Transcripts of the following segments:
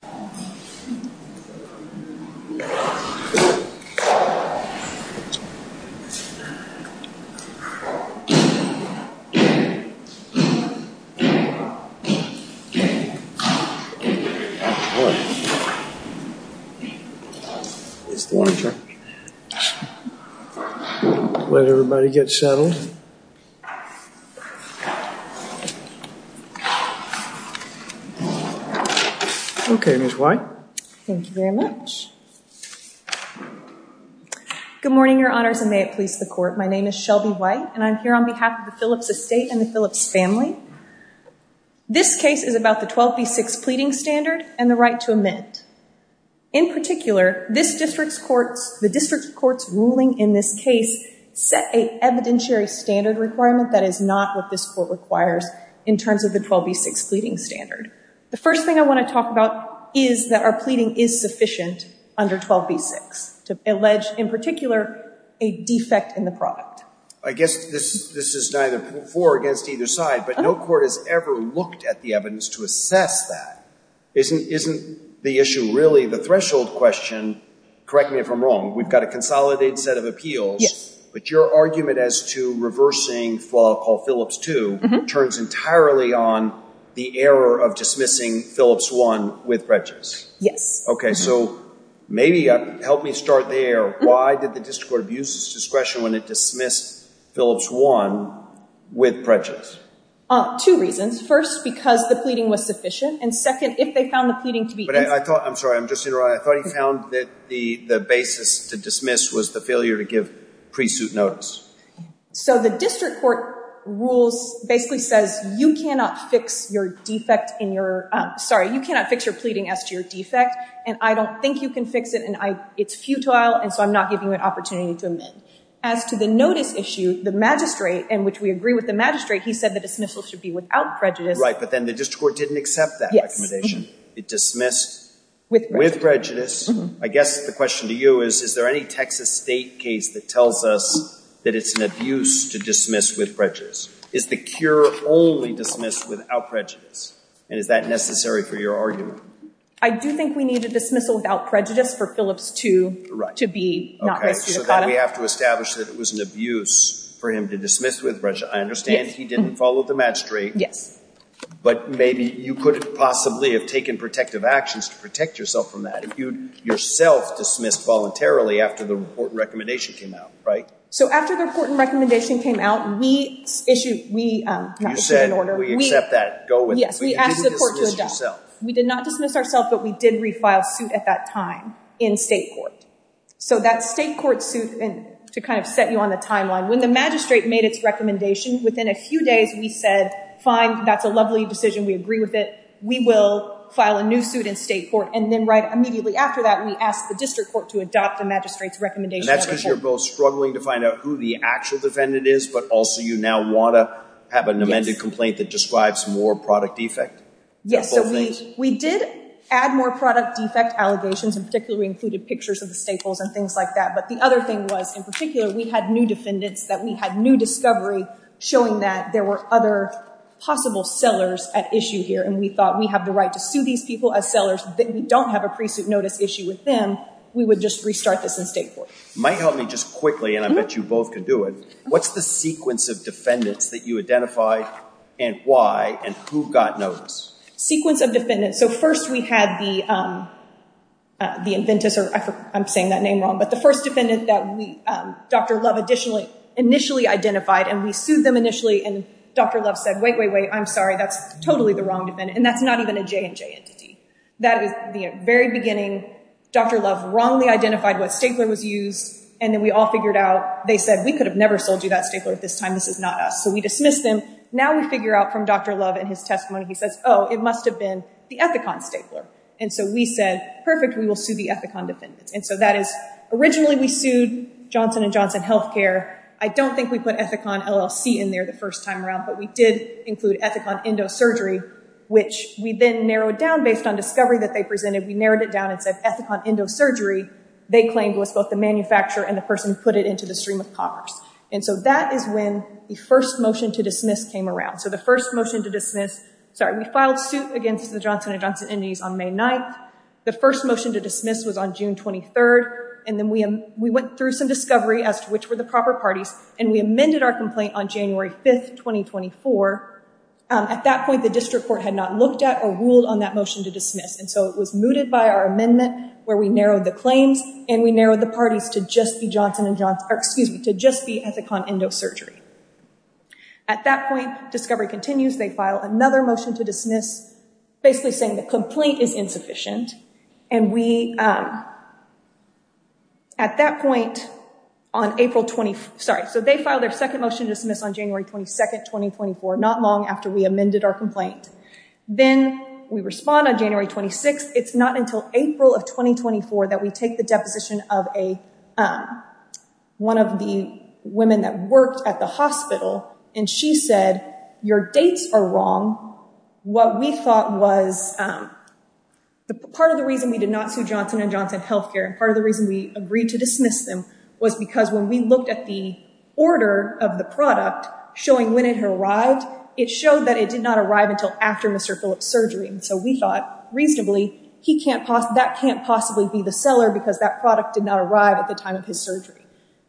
Mike Penrose, MD Mr. Penrose, MD Ms. White Thank you very much. Good morning your honors and may it please the court. My name is Shelby White and I'm here on behalf of the Phillips estate and the Phillips family. This case is about the 12b6 pleading standard and the right to amend. In particular this district's courts the district courts ruling in this case set a evidentiary standard requirement that is not what this court requires in terms of the 12b6 pleading standard. The first thing I want to talk about is that our pleading is sufficient under 12b6 to allege in particular a defect in the product. I guess this this is neither for against either side but no court has ever looked at the evidence to assess that. Isn't isn't the issue really the threshold question correct me if I'm wrong we've got a consolidated set of appeals but your argument as to reversing what I'll call Phillips 2 turns entirely on the error of dismissing Phillips 1 with prejudice. Yes. Okay so maybe help me start there why did the district court abuse discretion when it dismissed Phillips 1 with prejudice? Two reasons first because the pleading was sufficient and second if they found the pleading to be. But I thought I'm sorry I'm just in a row I thought he found that the the basis to dismiss was the failure to give pre-suit notice. So the district court rules basically says you cannot fix your defect in your sorry you cannot fix your pleading as to your defect and I don't think you can fix it and I it's futile and so I'm not giving you an opportunity to amend. As to the notice issue the magistrate and which we agree with the magistrate he said the dismissal should be without prejudice. Right but then the district court didn't accept that recommendation. It dismissed with prejudice. I guess the question to you is is there any Texas State case that tells us that it's an abuse to dismiss with prejudice? Is the cure only dismissed without prejudice and is that necessary for your argument? I do think we need a dismissal without prejudice for Phillips 2 to be not raised to the cottom. We have to establish that it was an abuse for him to dismiss with prejudice. I understand he didn't follow the magistrate. Yes. But maybe you couldn't possibly have taken protective actions to protect yourself from that if you yourself dismissed voluntarily after the report and recommendation came out So after the report and recommendation came out we issued we... You said we accept that. Go with it. We did not dismiss ourself but we did refile suit at that time in state court. So that state court suit and to kind of set you on the timeline when the magistrate made its recommendation within a few days we said fine that's a lovely decision we agree with it we will file a new suit in state court and then right immediately after that we asked the district court to adopt the magistrates recommendation. And that's because you're both struggling to find out who the actual defendant is but also you now want to have an amended complaint that describes more product defect. Yes we did add more product defect allegations and particularly included pictures of the staples and things like that but the other thing was in particular we had new defendants that we had new discovery showing that there were other possible sellers at issue here and we thought we have the right to sue these people as sellers that we don't have a pre-suit notice issue with them we would just restart this in state court. Might help me just quickly and I bet you both could do it what's the sequence of defendants that you identified and why and who got notice? Sequence of defendants so first we had the the inventors or I'm saying that name wrong but the first defendant that we Dr. Love additionally initially identified and we sued them initially and Dr. Love said wait wait wait I'm sorry that's totally the wrong defendant and that's not even a J&J entity. That was used and then we all figured out they said we could have never sold you that stapler at this time this is not us so we dismissed them now we figure out from Dr. Love and his testimony he says oh it must have been the Ethicon stapler and so we said perfect we will sue the Ethicon defendants and so that is originally we sued Johnson & Johnson Healthcare I don't think we put Ethicon LLC in there the first time around but we did include Ethicon Endosurgery which we then narrowed down based on discovery that they presented we narrowed it down and said Ethicon Endosurgery they claimed was both the manufacturer and the person who put it into the stream of commerce and so that is when the first motion to dismiss came around so the first motion to dismiss sorry we filed suit against the Johnson & Johnson entities on May 9th the first motion to dismiss was on June 23rd and then we went through some discovery as to which were the proper parties and we amended our complaint on January 5th 2024 at that point the district court had not looked at or ruled on that motion to dismiss and so it was mooted by our amendment where we narrowed the claims and we narrowed the parties to just be Johnson & Johnson excuse me to just be Ethicon Endosurgery at that point discovery continues they file another motion to dismiss basically saying the complaint is insufficient and we at that point on April 24th sorry so they filed their second motion to dismiss on January 22nd 2024 not long after we amended our complaint then we respond on January 26th it's not until April of 2024 that we take the deposition of a one of the women that worked at the hospital and she said your dates are wrong what we thought was the part of the reason we did not sue Johnson & Johnson Healthcare and part of the reason we agreed to dismiss them was because when we looked at the order of the product showing when it had arrived it showed that it did not arrive until after mr. Phillips surgery and so we thought reasonably he can't pause that can't possibly be the seller because that product did not arrive at the time of his surgery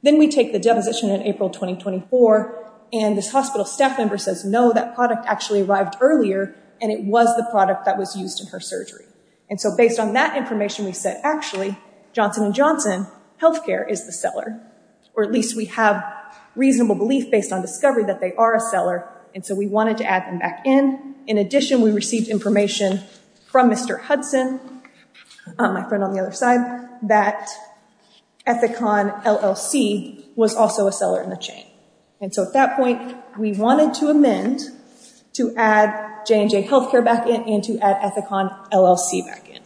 then we take the deposition in April 2024 and this hospital staff member says no that product actually arrived earlier and it was the product that was used in her surgery and so based on that information we said actually Johnson & Johnson healthcare is the seller or at least we have reasonable belief based on that they are a seller and so we wanted to add them back in in addition we received information from mr. Hudson my friend on the other side that Ethicon LLC was also a seller in the chain and so at that point we wanted to amend to add J&J healthcare back in and to add Ethicon LLC back in.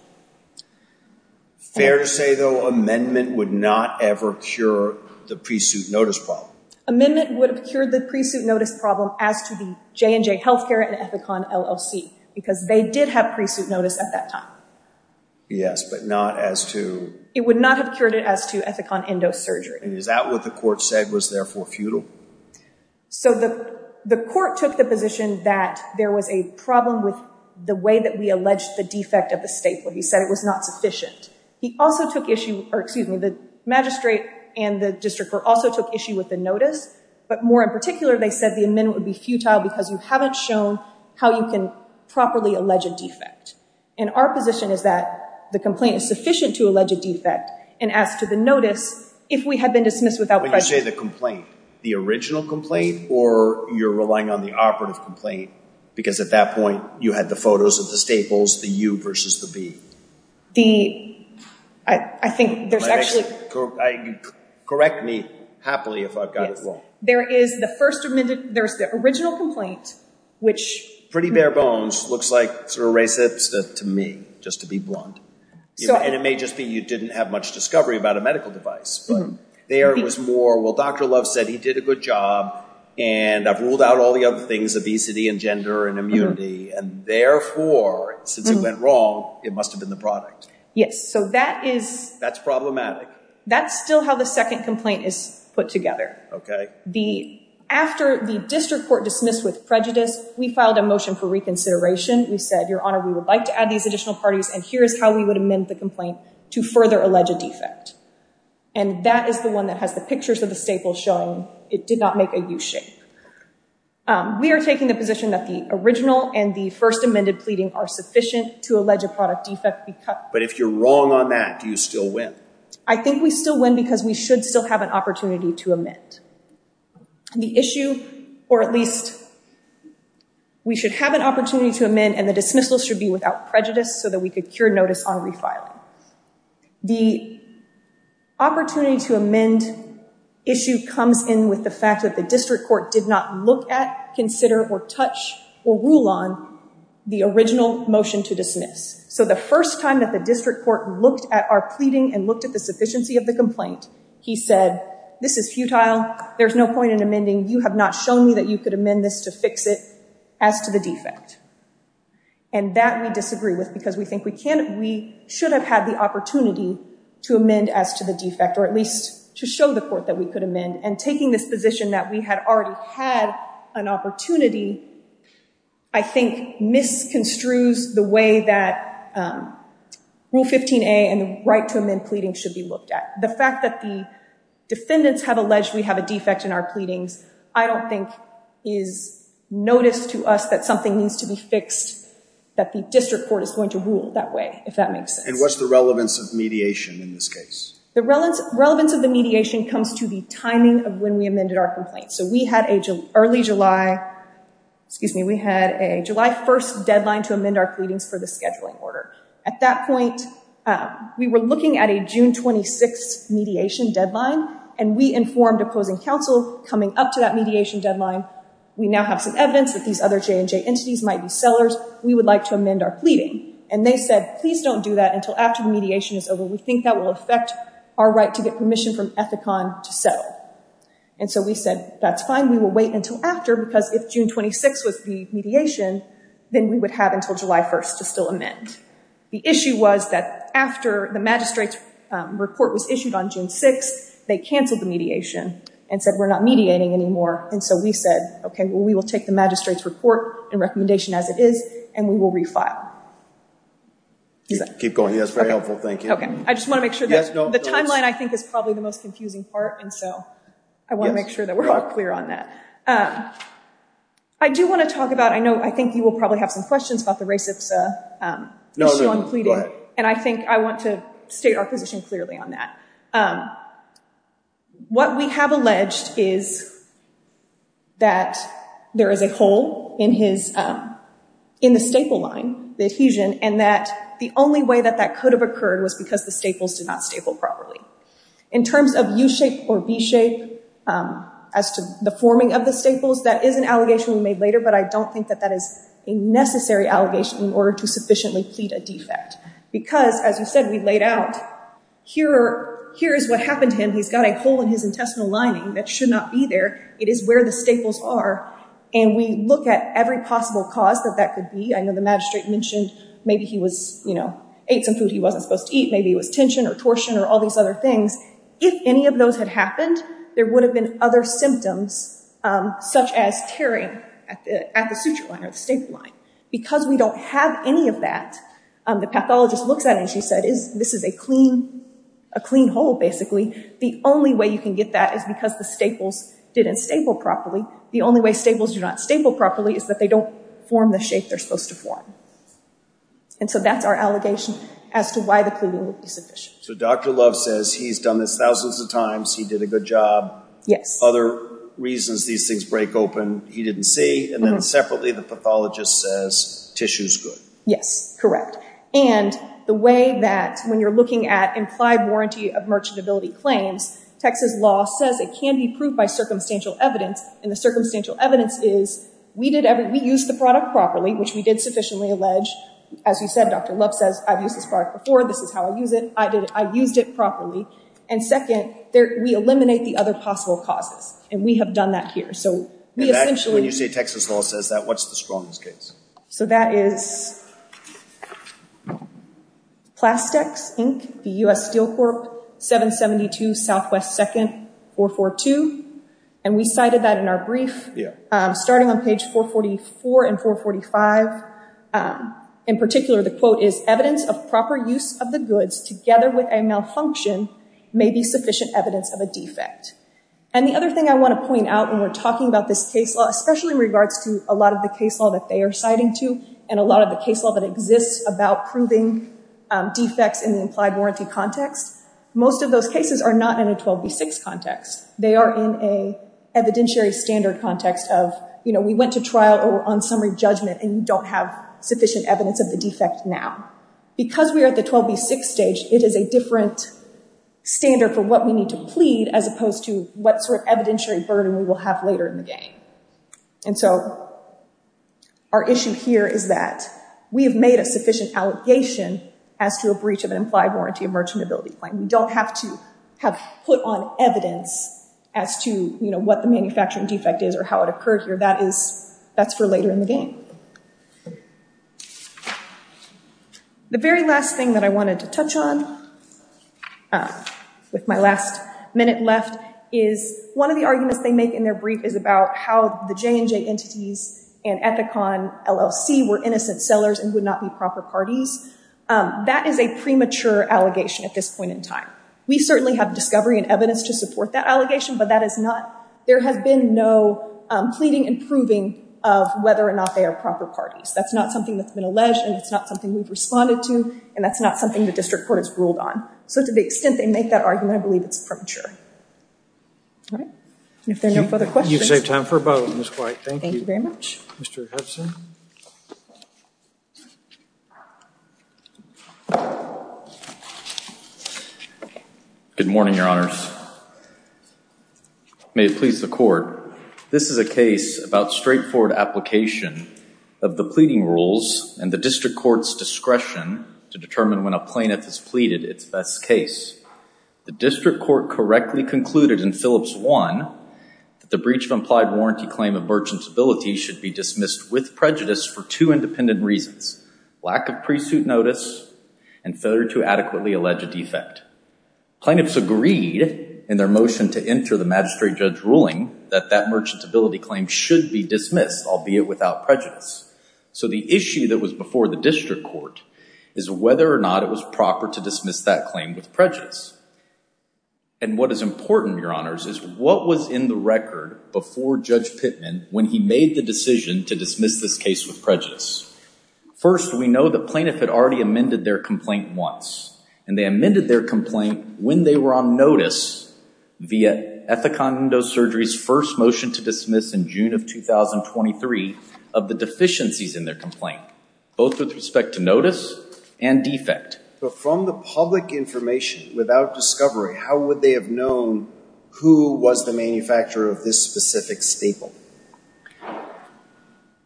Fair to say though amendment would not ever cure the pre-suit notice problem. Amendment would have cured the pre-suit notice problem as to the J&J healthcare and Ethicon LLC because they did have pre-suit notice at that time. Yes but not as to... It would not have cured it as to Ethicon endosurgery. Is that what the court said was therefore futile? So the the court took the position that there was a problem with the way that we alleged the defect of the state where he said it was not sufficient. He also took issue or excuse me the magistrate and the district court also took issue with the notice but more in particular they said the amendment would be futile because you haven't shown how you can properly allege a defect and our position is that the complaint is sufficient to allege a defect and as to the notice if we had been dismissed without... When you say the complaint the original complaint or you're relying on the operative complaint because at that point you had the photos of the staples the U versus the B. I think there's actually... Correct me happily if I've got it wrong. There is the first amendment there's the original complaint which... Pretty bare bones looks like sort of race hipster to me just to be blunt and it may just be you didn't have much discovery about a medical device but there was more well Dr. Love said he did a good job and I've ruled out all the other things obesity and gender and immunity and therefore since it went wrong it must have been the product. Yes so that is... That's problematic. That's still how the second complaint is put together. Okay. The after the district court dismissed with prejudice we filed a motion for reconsideration we said your honor we would like to add these additional parties and here is how we would amend the complaint to further allege a defect and that is the one that has the pictures of the staples showing it did not make a U shape. We are taking the position that the original and the first amended pleading are sufficient to allege a product defect because... But if you're wrong on that do you still win? I think we still win because we should still have an opportunity to amend. The issue or at least we should have an opportunity to amend and the dismissal should be without prejudice so that we could cure notice on refiling. The opportunity to amend issue comes in with the fact that the district court did not look at consider or touch or rule on the original motion to dismiss so the first time that the district court looked at our pleading and looked at the sufficiency of the complaint he said this is futile there's no point in amending you have not shown me that you could amend this to fix it as to the defect and that we disagree with because we think we can't we should have had the opportunity to amend as to the defect or at least to show the court that we could amend and taking this position that we had already had an opportunity I think misconstrues the way that rule 15a and right to amend pleading should be looked at. The fact that the defendants have alleged we have a defect in our pleadings I don't think is noticed to us that something needs to be fixed that the district court is going to rule that way if that makes sense. And what's the relevance of mediation in this case? The relevance of the mediation comes to the timing of when we amended our complaint so we had a early July excuse me we had a July 1st deadline to amend our pleadings for the scheduling order at that point we were looking at a June 26 mediation deadline and we informed opposing counsel coming up to that mediation deadline we now have some evidence that these other J&J entities might be sellers we would like to amend our pleading and they said please don't do that until after the mediation is over we think that will affect our right to get permission from Ethicon to settle and so we said that's fine we will wait until after because if June 26 was the mediation then we would have until July 1st to still amend. The issue was that after the magistrate's report was issued on June 6 they canceled the mediation and said we're not mediating anymore and so we said okay well we will take the magistrate's report and recommendation as it is and we will refile. Keep going that's very helpful thank you. Okay I just want to make sure the timeline I think is probably the most confusing part and so I want to make sure that we're all clear on that. I do want to talk about I know I think you will probably have some questions about the Ray Cipsa issue on pleading and I think I want to state our position clearly on that. What we have alleged is that there is a hole in his in the staple line the adhesion and that the way that that could have occurred was because the staples did not staple properly. In terms of u-shape or v-shape as to the forming of the staples that is an allegation we made later but I don't think that that is a necessary allegation in order to sufficiently plead a defect because as you said we laid out here here is what happened to him he's got a hole in his intestinal lining that should not be there it is where the staples are and we look at every possible cause that that could be I know the magistrate mentioned maybe he you know ate some food he wasn't supposed to eat maybe it was tension or torsion or all these other things if any of those had happened there would have been other symptoms such as tearing at the suture line or the staple line because we don't have any of that the pathologist looks at and she said is this is a clean a clean hole basically the only way you can get that is because the staples didn't staple properly the only way staples do not staple properly is that they don't form the shape they're supposed to form and so that's our allegation as to why the cleaning would be sufficient so dr love says he's done this thousands of times he did a good job yes other reasons these things break open he didn't see and then separately the pathologist says tissue's good yes correct and the way that when you're looking at implied warranty of merchantability claims texas law says it can be proved by circumstantial evidence and the circumstantial evidence is we did every we use the product properly which we did sufficiently allege as you said dr love says i've used this product before this is how i use it i did i used it properly and second there we eliminate the other possible causes and we have done that here so we essentially when you say texas law says that what's the strongest case so that is evidence plastics inc the u.s steel corp 772 southwest 2nd 442 and we cited that in our brief yeah starting on page 444 and 445 in particular the quote is evidence of proper use of the goods together with a malfunction may be sufficient evidence of a defect and the other thing i want to point out when we're talking about this case law especially in regards to a lot of the case law that they are citing and a lot of the case law that exists about proving defects in the implied warranty context most of those cases are not in a 12b6 context they are in a evidentiary standard context of you know we went to trial or on summary judgment and you don't have sufficient evidence of the defect now because we are at the 12b6 stage it is a different standard for what we need to plead as opposed to what sort of evidentiary burden we will have later in the game and so our issue here is that we have made a sufficient allegation as to a breach of an implied warranty of merchantability claim we don't have to have put on evidence as to you know what the manufacturing defect is or how it occurred here that is that's for later in the game the very last thing that i wanted to touch on um with my last minute left is one of the arguments they make in their brief is about how the J&J entities and Ethicon LLC were innocent sellers and would not be proper parties that is a premature allegation at this point in time we certainly have discovery and evidence to support that allegation but that is not there has been no pleading and proving of whether or not they are proper parties that's not something that's been alleged and it's not something we've responded to and that's not something the district court has ruled on so to the extent they make that argument i believe it's premature all right if there are no further questions you save time for a vote miss white thank you very much mr hudson good morning your honors may it please the court this is a case about straightforward application of the pleading rules and the district court's discretion to determine when a plaintiff has pleaded its best case the district court correctly concluded in phillips one that the breach of implied warranty claim of merchant's ability should be dismissed with prejudice for two independent reasons lack of pre-suit notice and failure to adequately allege a defect plaintiffs agreed in their motion to enter the magistrate judge ruling that that merchant's claim should be dismissed albeit without prejudice so the issue that was before the district court is whether or not it was proper to dismiss that claim with prejudice and what is important your honors is what was in the record before judge pitman when he made the decision to dismiss this case with prejudice first we know the plaintiff had already amended their complaint once and they amended their complaint when they were on notice via ethicondo surgery's motion to dismiss in june of 2023 of the deficiencies in their complaint both with respect to notice and defect but from the public information without discovery how would they have known who was the manufacturer of this specific staple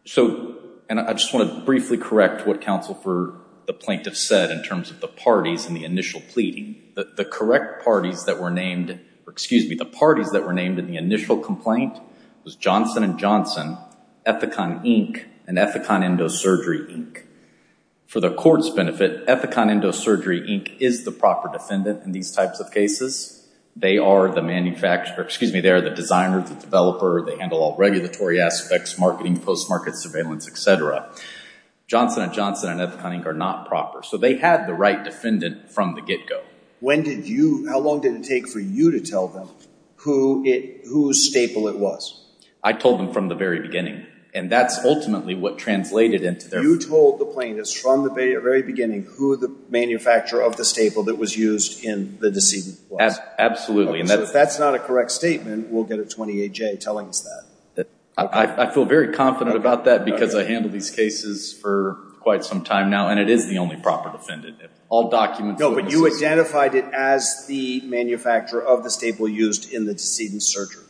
so and i just want to briefly correct what counsel for the plaintiff said in terms of the parties in the initial pleading that the correct parties that were named or excuse me the parties that were named in the was johnson and johnson ethicon inc and ethicon endosurgery inc for the court's benefit ethicon endosurgery inc is the proper defendant in these types of cases they are the manufacturer excuse me they're the designer the developer they handle all regulatory aspects marketing post-market surveillance etc johnson and johnson and ethicon inc are not proper so they had the right defendant from the get-go when did you how long did it take for you to tell them who it whose staple it was i told them from the very beginning and that's ultimately what translated into their you told the plaintiffs from the very beginning who the manufacturer of the staple that was used in the decedent was absolutely and if that's not a correct statement we'll get a 28j telling us that i i feel very confident about that because i handle these cases for quite some time now and it is the only proper defendant all documents no but you identified it as the manufacturer of the staple used in the decedent surgery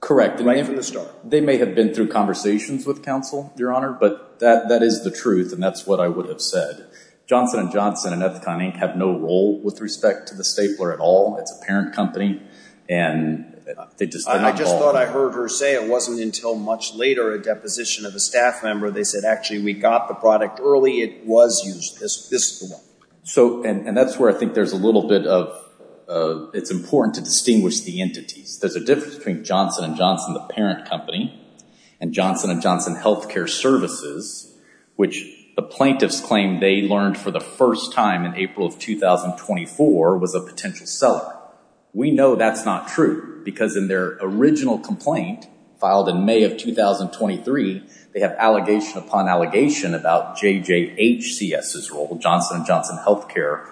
correct right from the start they may have been through conversations with counsel your honor but that that is the truth and that's what i would have said johnson and johnson and ethicon inc have no role with respect to the stapler at all it's a parent company and they just i just thought i heard her say it wasn't until much later a deposition of a staff member they said actually we got the product early it was used this this is the one so and and that's where i think there's a little bit of uh it's important to distinguish the entities there's a difference between johnson and johnson the parent company and johnson and johnson health care services which the plaintiffs claim they learned for the first time in april of 2024 was a potential seller we know that's not true because in their original complaint filed in may of 2023 they have allegation upon allegation about jj hcs's role johnson and johnson health care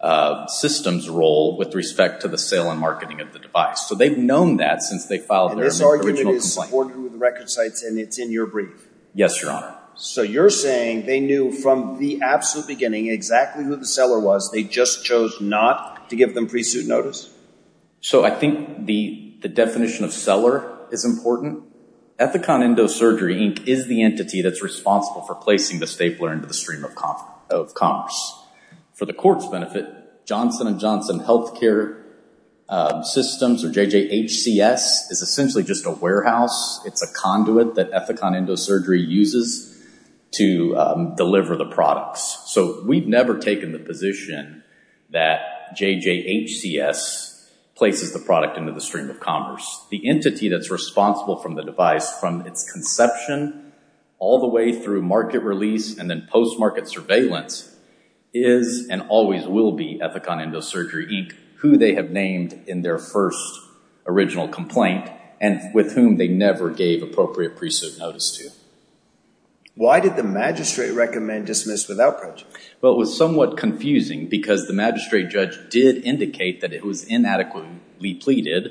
uh systems role with respect to the sale and marketing of the device so they've known that since they filed this argument is supported with record sites and it's in your brief yes your honor so you're saying they knew from the absolute beginning exactly who the seller was they just chose not to give them pre-suit notice so i think the the definition of seller is important ethicon endosurgery inc is the entity that's responsible for placing the stapler into the stream of conf of commerce for the court's benefit johnson and johnson health care systems or jj hcs is essentially just a warehouse it's a conduit that ethicon endosurgery uses to deliver the products so we've never taken the position that jj hcs places the product into the stream of commerce the entity that's responsible from the device from its conception all the way through market release and then post-market surveillance is and always will be ethicon endosurgery inc who they have named in their first original complaint and with whom they never gave appropriate pre-suit notice to why did the magistrate recommend dismiss without prejudice well it was somewhat confusing because the magistrate judge did indicate that it was inadequately pleaded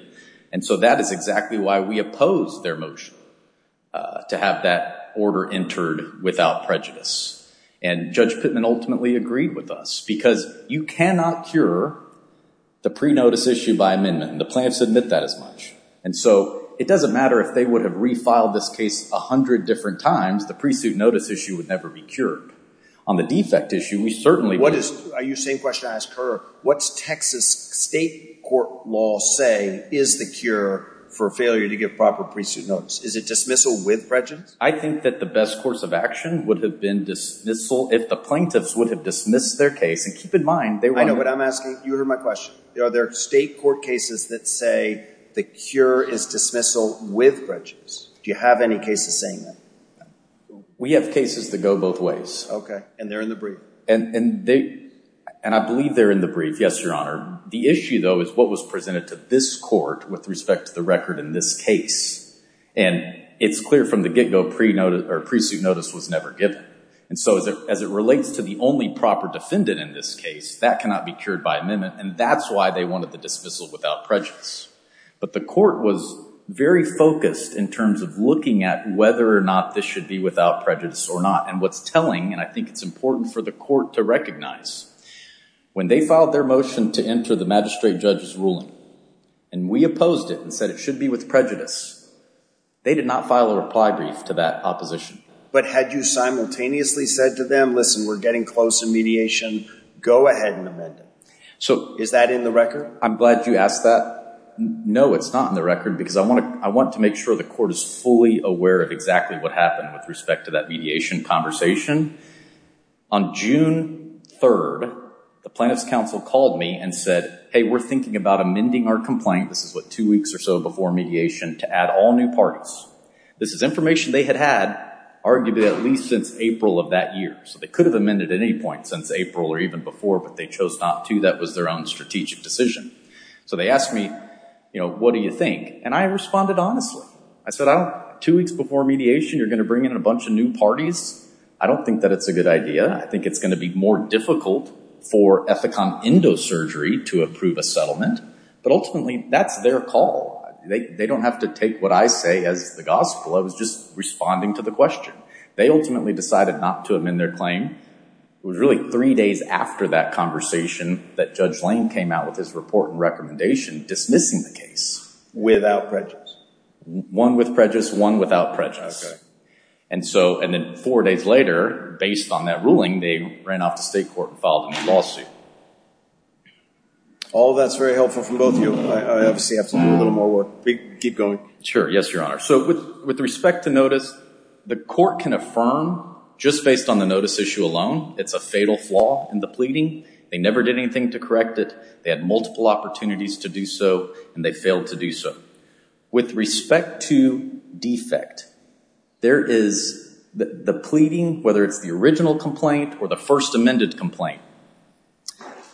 and so that is exactly why we opposed their motion to have that order entered without prejudice and judge pitman ultimately agreed with us because you cannot cure the pre-notice issue by amendment the plaintiffs admit that as much and so it doesn't matter if they would have refiled this case a hundred different times the pre-suit notice issue would never be cured on the defect issue we certainly what is are you saying question i ask her what's texas state court law say is the cure for failure to give proper pre-suit notice is it dismissal with prejudice i think that the best course of action would have been dismissal if the plaintiffs would have dismissed their case and keep in mind they know what i'm asking you heard my question are there state court cases that say the cure is dismissal with prejudice do you have any cases saying that we have cases that go both ways okay and they're in the brief and and they and i believe they're in the brief yes your honor the issue though is what was presented to this court with respect to the record in this case and it's clear from the get-go pre-notice or pre-suit notice was never given and so as it as it relates to the only proper defendant in this case that cannot be cured by amendment and that's why they wanted the dismissal without prejudice but the court was very focused in terms of looking at whether or not this should be without prejudice or not and what's telling and i think it's important for the court to recognize when they filed their motion to enter the magistrate judge's ruling and we opposed it and said it should be with prejudice they did not file a reply brief to that opposition but had you simultaneously said to them listen we're getting close to mediation go ahead and amend it so is that in the record i'm glad you asked that no it's not in the record because i want to i want to make sure the court is fully aware of exactly what happened with respect to that mediation conversation on june 3rd the plaintiff's council called me and said hey we're thinking about amending our complaint this is what two weeks or so before mediation to add all new parts this is information they had had arguably at least since april of that year so they could have amended at any point since april or even before but they chose not to that was their own strategic decision so they asked me you know what do you think and i responded honestly i said i don't two weeks before mediation you're going to bring in a bunch of new parties i don't think that it's a good idea i think it's going to be more difficult for ethicon endosurgery to approve a settlement but ultimately that's their call they don't have to take what i say as the gospel i was just responding to the question they ultimately decided not to amend their claim it was really three days after that conversation that judge lane came out with his report and recommendation dismissing the case without prejudice one with prejudice one without prejudice and so and then four days later based on that ruling they ran off to state court and filed a lawsuit all that's very helpful from both you i obviously have to do a little more work we keep going sure yes your honor so with with respect to notice the court can affirm just based on the notice issue alone it's a fatal flaw in the pleading they never did anything to correct it they had multiple opportunities to do so and they failed to do so with respect to defect there is the pleading whether it's the original complaint or the first amended complaint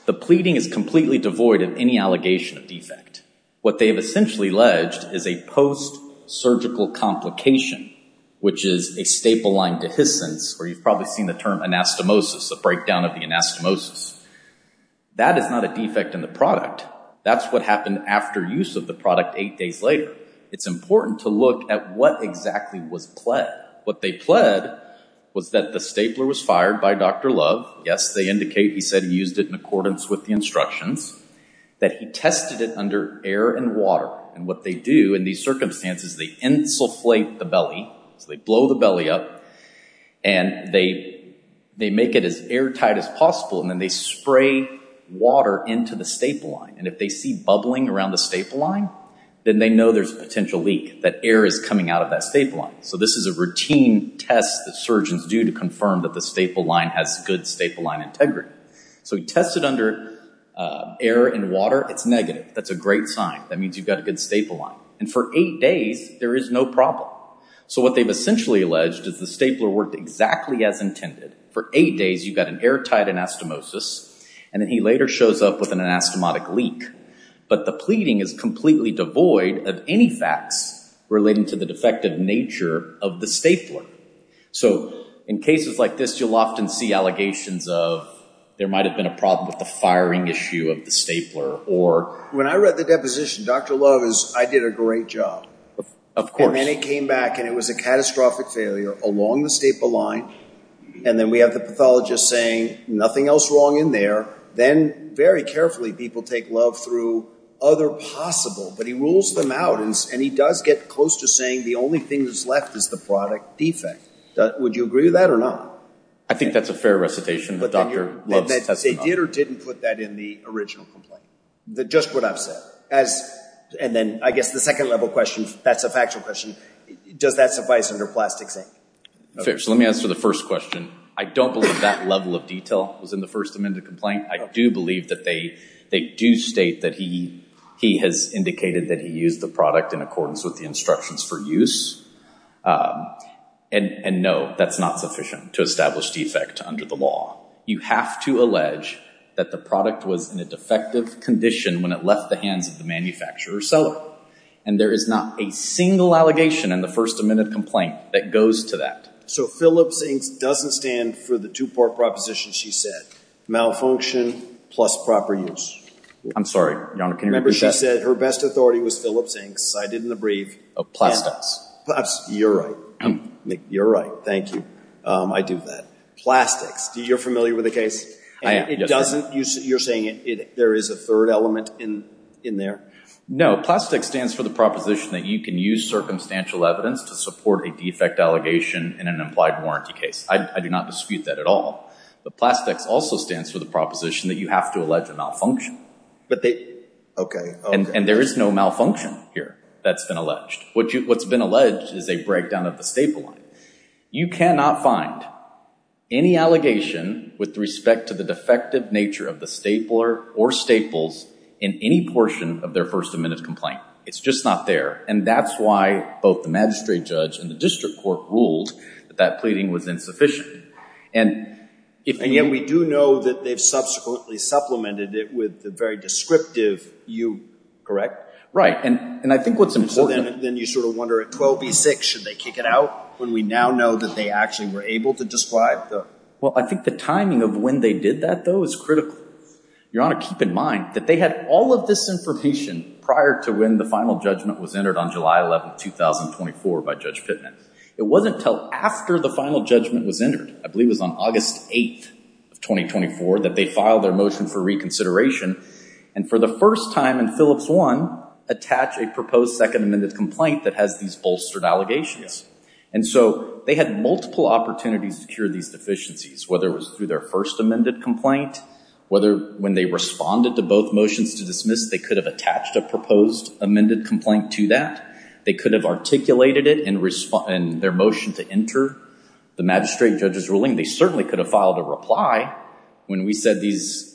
the pleading is completely devoid of any allegation of defect what they have essentially alleged is a post-surgical complication which is a staple line dehiscence or you've probably seen the term anastomosis a breakdown of the anastomosis that is not a defect in the product that's what happened after use of the product eight days later it's important to look at what exactly was pled what they pled was that the stapler was fired by dr love yes they indicate he said he used it in accordance with the instructions that he tested it under air and water and what they do in these circumstances they insulate the belly so they blow the belly up and they they make it as airtight as possible and then they spray water into the staple line and if they see bubbling around the staple line then they know there's a potential leak that air is coming out of that staple line so this is a routine test that surgeons do to confirm that the staple line has good staple line integrity so he tested under air and water it's negative that's a great sign that means you've got a good staple line and for eight days there is no problem so what they've essentially alleged is the stapler worked exactly as intended for eight days you've got an airtight anastomosis and then he later shows up with an anastomotic leak but the pleading is completely devoid of any facts relating to the effective nature of the stapler so in cases like this you'll often see allegations of there might have been a problem with the firing issue of the stapler or when i read the deposition dr love is i did a great job of course and it came back and it was a catastrophic failure along the staple line and then we have the pathologist saying nothing else wrong in there then very carefully people take love through other possible but he rules them out and he does get close to saying the only thing that's left is the product defect would you agree with that or not i think that's a fair recitation but dr loves that they did or didn't put that in the original complaint the just what i've said as and then i guess the second level question that's a factual question does that suffice under plastic thing okay so let me answer the first question i don't believe that level of detail was in the first amendment complaint i do believe that they they do state that he he has indicated that he used the product in accordance with the instructions for use and and no that's not sufficient to establish defect under the law you have to allege that the product was in a defective condition when it left the hands of the manufacturer seller and there is not a single allegation in the first amendment complaint that goes to that so phillips inks doesn't stand for the two-part proposition she said malfunction plus proper use i'm sorry your honor can remember she said her best authority was phillips inks i did in the brief of plastics perhaps you're right you're right thank you um i do that plastics do you're familiar with the case it doesn't you're saying it there is a third element in in there no plastic stands for the proposition that you can use circumstantial evidence to support a defect allegation in an implied warranty case i do not dispute that at all but plastics also stands for the proposition that you have to allege a malfunction but they okay and and there is no malfunction here that's been alleged what you what's been alleged is a breakdown of the staple line you cannot find any allegation with respect to the defective nature of the stapler or staples in any portion of their first amendment complaint it's just not there and that's why both the ruled that that pleading was insufficient and if and yet we do know that they've subsequently supplemented it with the very descriptive you correct right and and i think what's important then you sort of wonder at 12 v6 should they kick it out when we now know that they actually were able to describe the well i think the timing of when they did that though is critical your honor keep in mind that they had all of this information prior to when the final judgment was entered on july 11 2024 by judge pitman it wasn't until after the final judgment was entered i believe was on august 8th of 2024 that they filed their motion for reconsideration and for the first time in phillips one attach a proposed second amended complaint that has these bolstered allegations and so they had multiple opportunities to cure these deficiencies whether it was through their first amended complaint whether when they responded to both motions to dismiss they could have attached a proposed amended complaint to that they could have articulated it in response and their motion to enter the magistrate judge's ruling they certainly could have filed a reply when we said these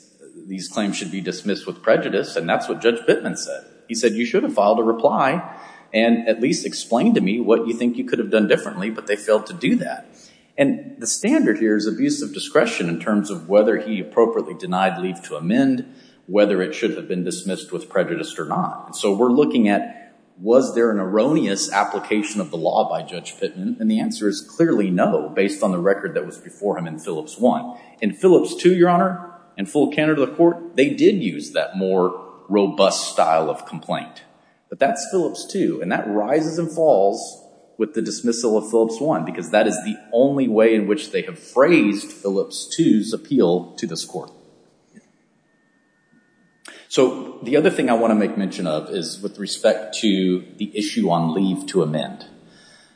these claims should be dismissed with prejudice and that's what judge pitman said he said you should have filed a reply and at least explained to me what you think you could have done differently but they failed to do that and the standard here is abuse of discretion in terms of whether he appropriately denied leave to amend whether it should have been dismissed with prejudice or not so we're looking at was there an erroneous application of the law by judge pitman and the answer is clearly no based on the record that was before him in phillips one in phillips two your honor and full candor to the court they did use that more robust style of complaint but that's phillips two and that rises and falls with the dismissal of phillips one because that is the only way in which they have phrased phillips two's appeal to this court yeah so the other thing i want to make mention of is with respect to the issue on leave to amend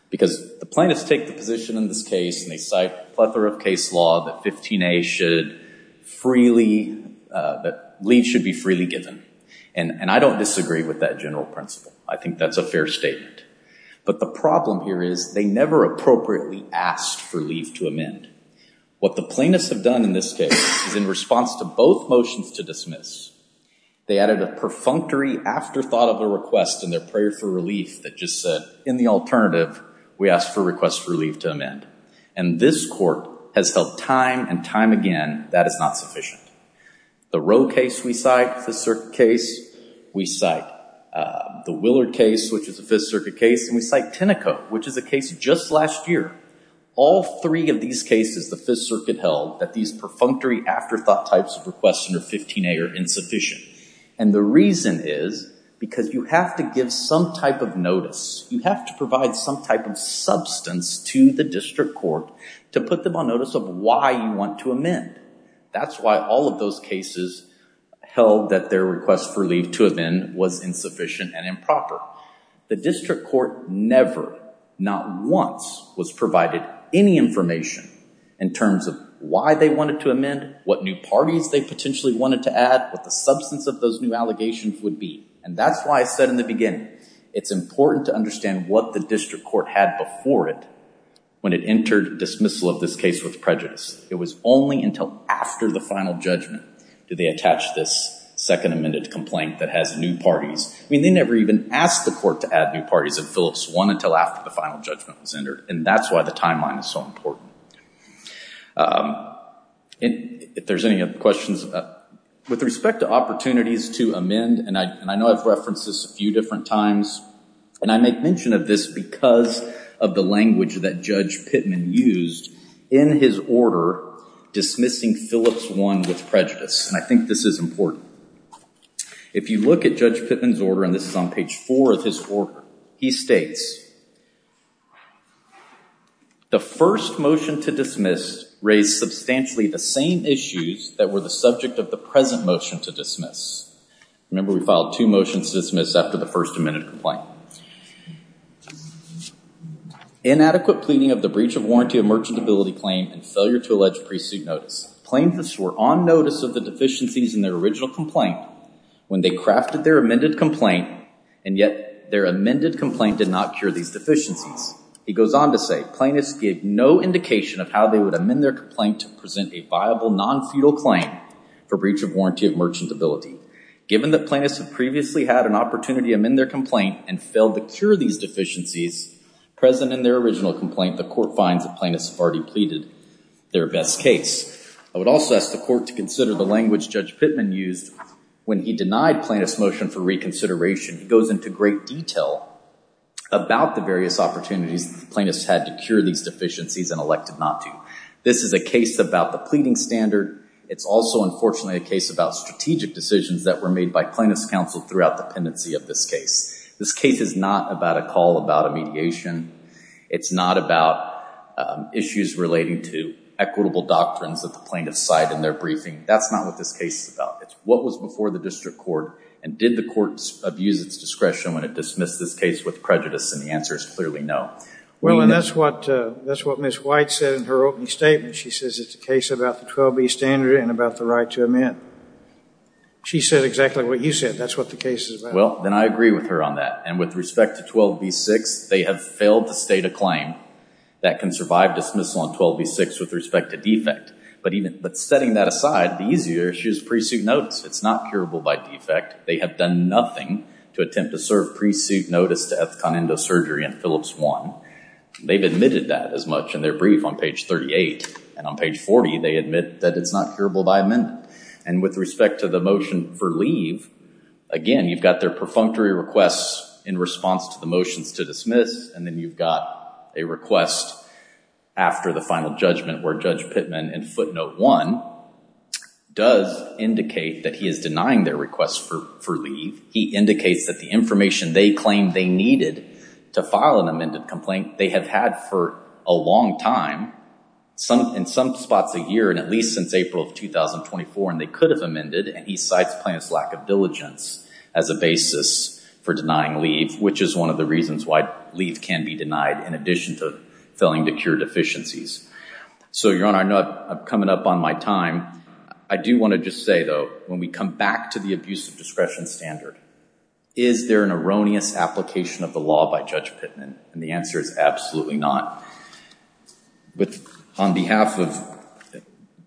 because the plaintiffs take the position in this case and they cite a plethora of case law that 15a should freely that leave should be freely given and and i don't disagree with that general principle i think that's a fair statement but the problem here is they never appropriately asked for leave to amend what the plaintiffs have done in this case is in response to both motions to dismiss they added a perfunctory afterthought of a request in their prayer for relief that just said in the alternative we asked for request for leave to amend and this court has held time and time again that is not sufficient the row case we cite the circuit case we cite uh the willard case which we cite tenneco which is a case just last year all three of these cases the fifth circuit held that these perfunctory afterthought types of requests under 15a are insufficient and the reason is because you have to give some type of notice you have to provide some type of substance to the district court to put them on notice of why you want to amend that's why all of those cases held that their request for leave to amend was insufficient and improper the district court never not once was provided any information in terms of why they wanted to amend what new parties they potentially wanted to add what the substance of those new allegations would be and that's why i said in the beginning it's important to understand what the district court had before it when it entered dismissal of this case with prejudice it was only until after the final judgment did they attach this second amended complaint that has new parties i mean they never even asked the court to add new parties of phillips one until after the final judgment was entered and that's why the timeline is so important um if there's any other questions with respect to opportunities to amend and i and i know i've referenced this a few different times and i make mention of this because of the language that judge pitman used in his order dismissing phillips one with prejudice and i think this is important if you look at judge pitman's order and this is on page four of his order he states the first motion to dismiss raised substantially the same issues that were the subject of the present motion to dismiss remember we filed two motions to dismiss after the first amendment complaint inadequate pleading of the breach of warranty of merchant ability claim and failure to allege pre-suit notice plaintiffs were on notice of the deficiencies in their original complaint when they crafted their amended complaint and yet their amended complaint did not cure these deficiencies he goes on to say plaintiffs gave no indication of how they would amend their complaint to present a viable non-feudal claim for breach of warranty of merchant ability given that plaintiffs have previously had an opportunity to amend their complaint and failed to cure these deficiencies present in their original complaint the court finds that plaintiffs have already pleaded their best case i would also ask the court to consider the language judge pitman used when he denied plaintiffs motion for reconsideration he goes into great detail about the various opportunities the plaintiffs had to cure these deficiencies and elected not to this is a case about the pleading standard it's also unfortunately a case about strategic decisions that were made by plaintiffs counsel throughout the pendency of this case this case is not about a call about a mediation it's not about issues relating to equitable doctrines that the plaintiffs cite in their briefing that's not what this case is about it's what was before the district court and did the courts abuse its discretion when it dismissed this case with prejudice and the answer is clearly no well and that's what uh that's what miss white said in her opening statement she says it's a case about the 12b standard and about the right to amend she said exactly what you said that's what the case is well then i agree with her on that and with respect to 12b6 they have failed to state a claim that can survive dismissal on 12b6 with respect to defect but even but setting that aside the easier issues pre-suit notice it's not curable by defect they have done nothing to attempt to serve pre-suit notice to ethconendo surgery in phillips one they've admitted that as much in their brief on page 38 and on page 40 they admit that it's not curable by amendment and with respect to the motion for leave again you've got their perfunctory requests in response to the motions to dismiss and then you've got a request after the final judgment where judge pitman in footnote one does indicate that he is denying their request for for leave he indicates that the they claim they needed to file an amended complaint they have had for a long time some in some spots a year and at least since april of 2024 and they could have amended and he cites plaintiff's lack of diligence as a basis for denying leave which is one of the reasons why leave can be denied in addition to failing to cure deficiencies so your honor i know i'm coming up on my time i do want to just say though when we come back to the abuse of discretion standard is there an erroneous application of the law by judge pitman and the answer is absolutely not but on behalf of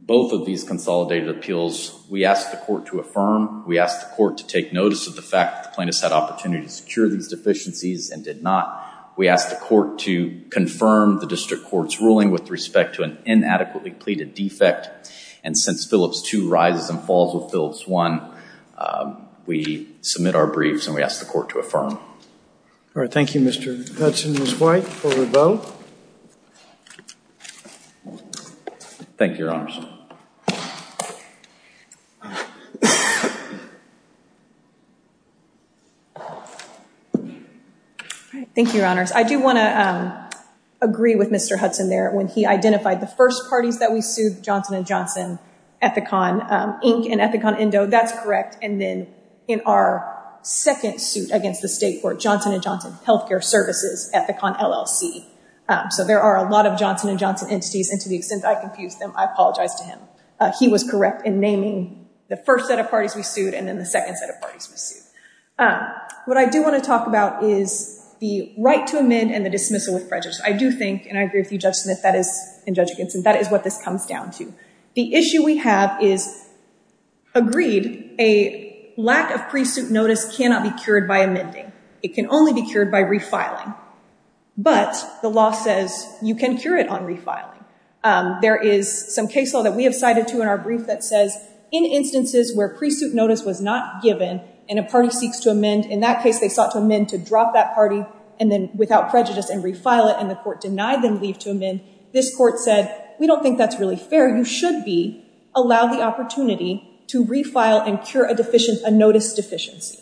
both of these consolidated appeals we asked the court to affirm we asked the court to take notice of the fact the plaintiff's had opportunity to secure these deficiencies and did not we asked the court to confirm the district court's ruling with respect to an inadequately pleaded defect and since phillips two rises and falls with phillips one we submit our briefs and we ask the court to affirm all right thank you mr hudson is white thank you your honors all right thank you your honors i do want to um agree with mr hudson there when he identified the first parties that we sued johnson and johnson ethicon ink and ethicon indo that's correct and then in our second suit against the state court johnson and johnson health care services ethicon llc so there are a lot of johnson and johnson entities and to the extent i confused them i apologize to him he was correct in naming the first set of parties we sued and then the second set of parties was sued what i do want to talk about is the right to amend and the dismissal prejudice i do think and i agree with you judge smith that is in judge against and that is what this comes down to the issue we have is agreed a lack of pre-suit notice cannot be cured by amending it can only be cured by refiling but the law says you can cure it on refiling um there is some case law that we have cited to in our brief that says in instances where pre-suit notice was not given and a party seeks to amend in that case they sought to amend to drop that party and then without prejudice and refile it and the court denied them leave to amend this court said we don't think that's really fair you should be allow the opportunity to refile and cure a deficient a notice deficiency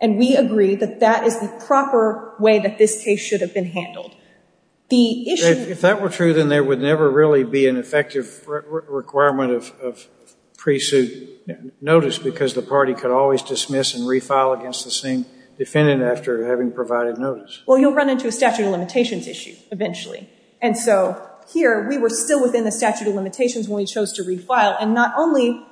and we agree that that is the proper way that this case should have been handled the issue if that were true then there would never really be an effective requirement of pre-suit notice because the party could always dismiss and refile against the same defendant after having provided notice well you'll run into a statute of limitations issue eventually and so here we were still within the statute of limitations when we chose to refile and not only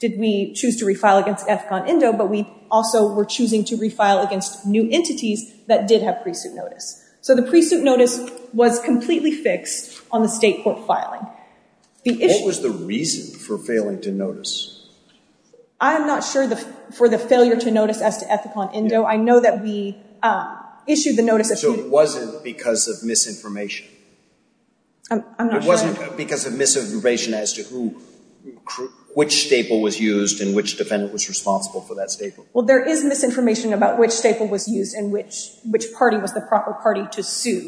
did we choose to refile against ethicon indo but we also were choosing to refile against new entities that did have pre-suit notice so the pre-suit notice was completely fixed on the state court filing the issue was the reason for failing to notice i'm not sure the for the failure to notice as to ethicon indo i know that we uh issued the notice so it wasn't because of misinformation i'm not sure it wasn't because of misinformation as to who which staple was used and which defendant was responsible for that staple well there is misinformation about which staple was used and which which party was the proper party to sue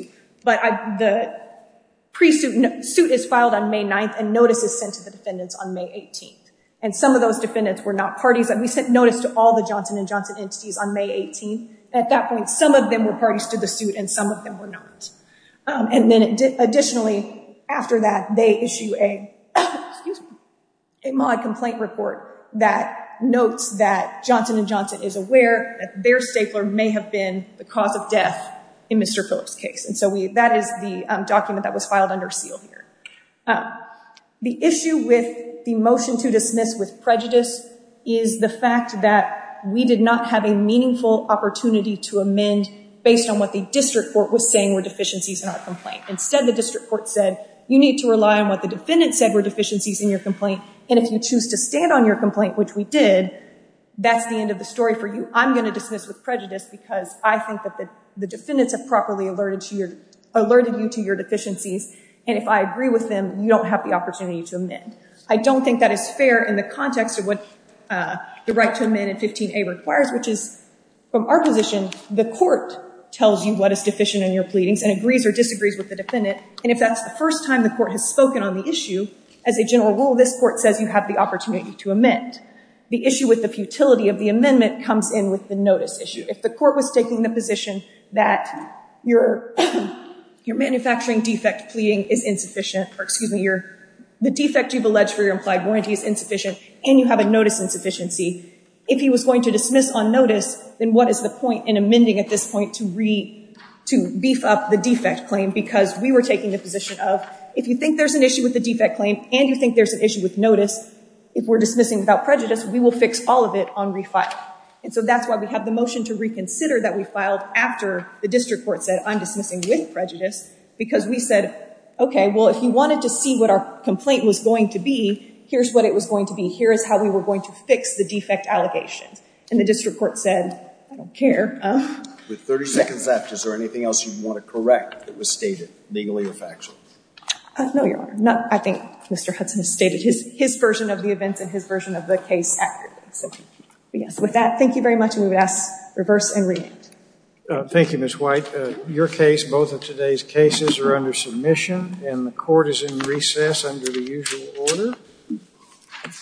but i the pre-suit suit is filed on may 9th and notice is sent to the defendants on may 18th and some of those defendants were not parties and we sent notice to all the johnson and johnson entities on may 18th at that point some of them were parties to the suit and some of them were not and then additionally after that they issue a excuse me a mod complaint report that notes that johnson and johnson is aware that their stapler may have been the cause of death in mr phillips case and so we that is the document that was filed under seal here the issue with the motion to dismiss with prejudice is the fact that we did not have a meaningful opportunity to amend based on what the district court was saying were deficiencies in our complaint instead the district court said you need to rely on what the defendant said were deficiencies in your complaint and if you choose to stand on your complaint which we did that's the end of the story for you i'm going to dismiss with prejudice because i think that the defendants have properly alerted to your alerted you to your deficiencies and if i agree with them you don't have the opportunity to amend i don't think that is fair in the context of what uh the right to amend and 15a requires which is from our position the court tells you what is deficient in your pleadings and agrees or disagrees with the defendant and if that's the first time the court has spoken on the issue as a general rule this court says you have the opportunity to amend the issue with the futility of the amendment comes in with the notice issue if the court was taking the position that your your manufacturing defect pleading is insufficient or excuse me your the defect you've alleged for your implied warranty is insufficient and you have a notice insufficiency if he was going to dismiss on notice then what is the point in amending at this point to re to beef up the defect claim because we were taking the position of if you think there's an issue with the defect claim and you think there's an issue with notice if we're dismissing without prejudice we will fix all of it on refile and so that's why we have the motion to reconsider that we filed after the district court said i'm dismissing with prejudice because we said okay well if you wanted to see what our complaint was going to be here's what it was going to be here is how we were going to fix the defect allegations and the district court said i don't care with 30 seconds left is there anything else you want to correct that was stated legally or factually no your honor not i think mr hudson has stated his his version of the events and his version of so yes with that thank you very much and we would ask reverse and react thank you miss white your case both of today's cases are under submission and the court is in recess under the usual order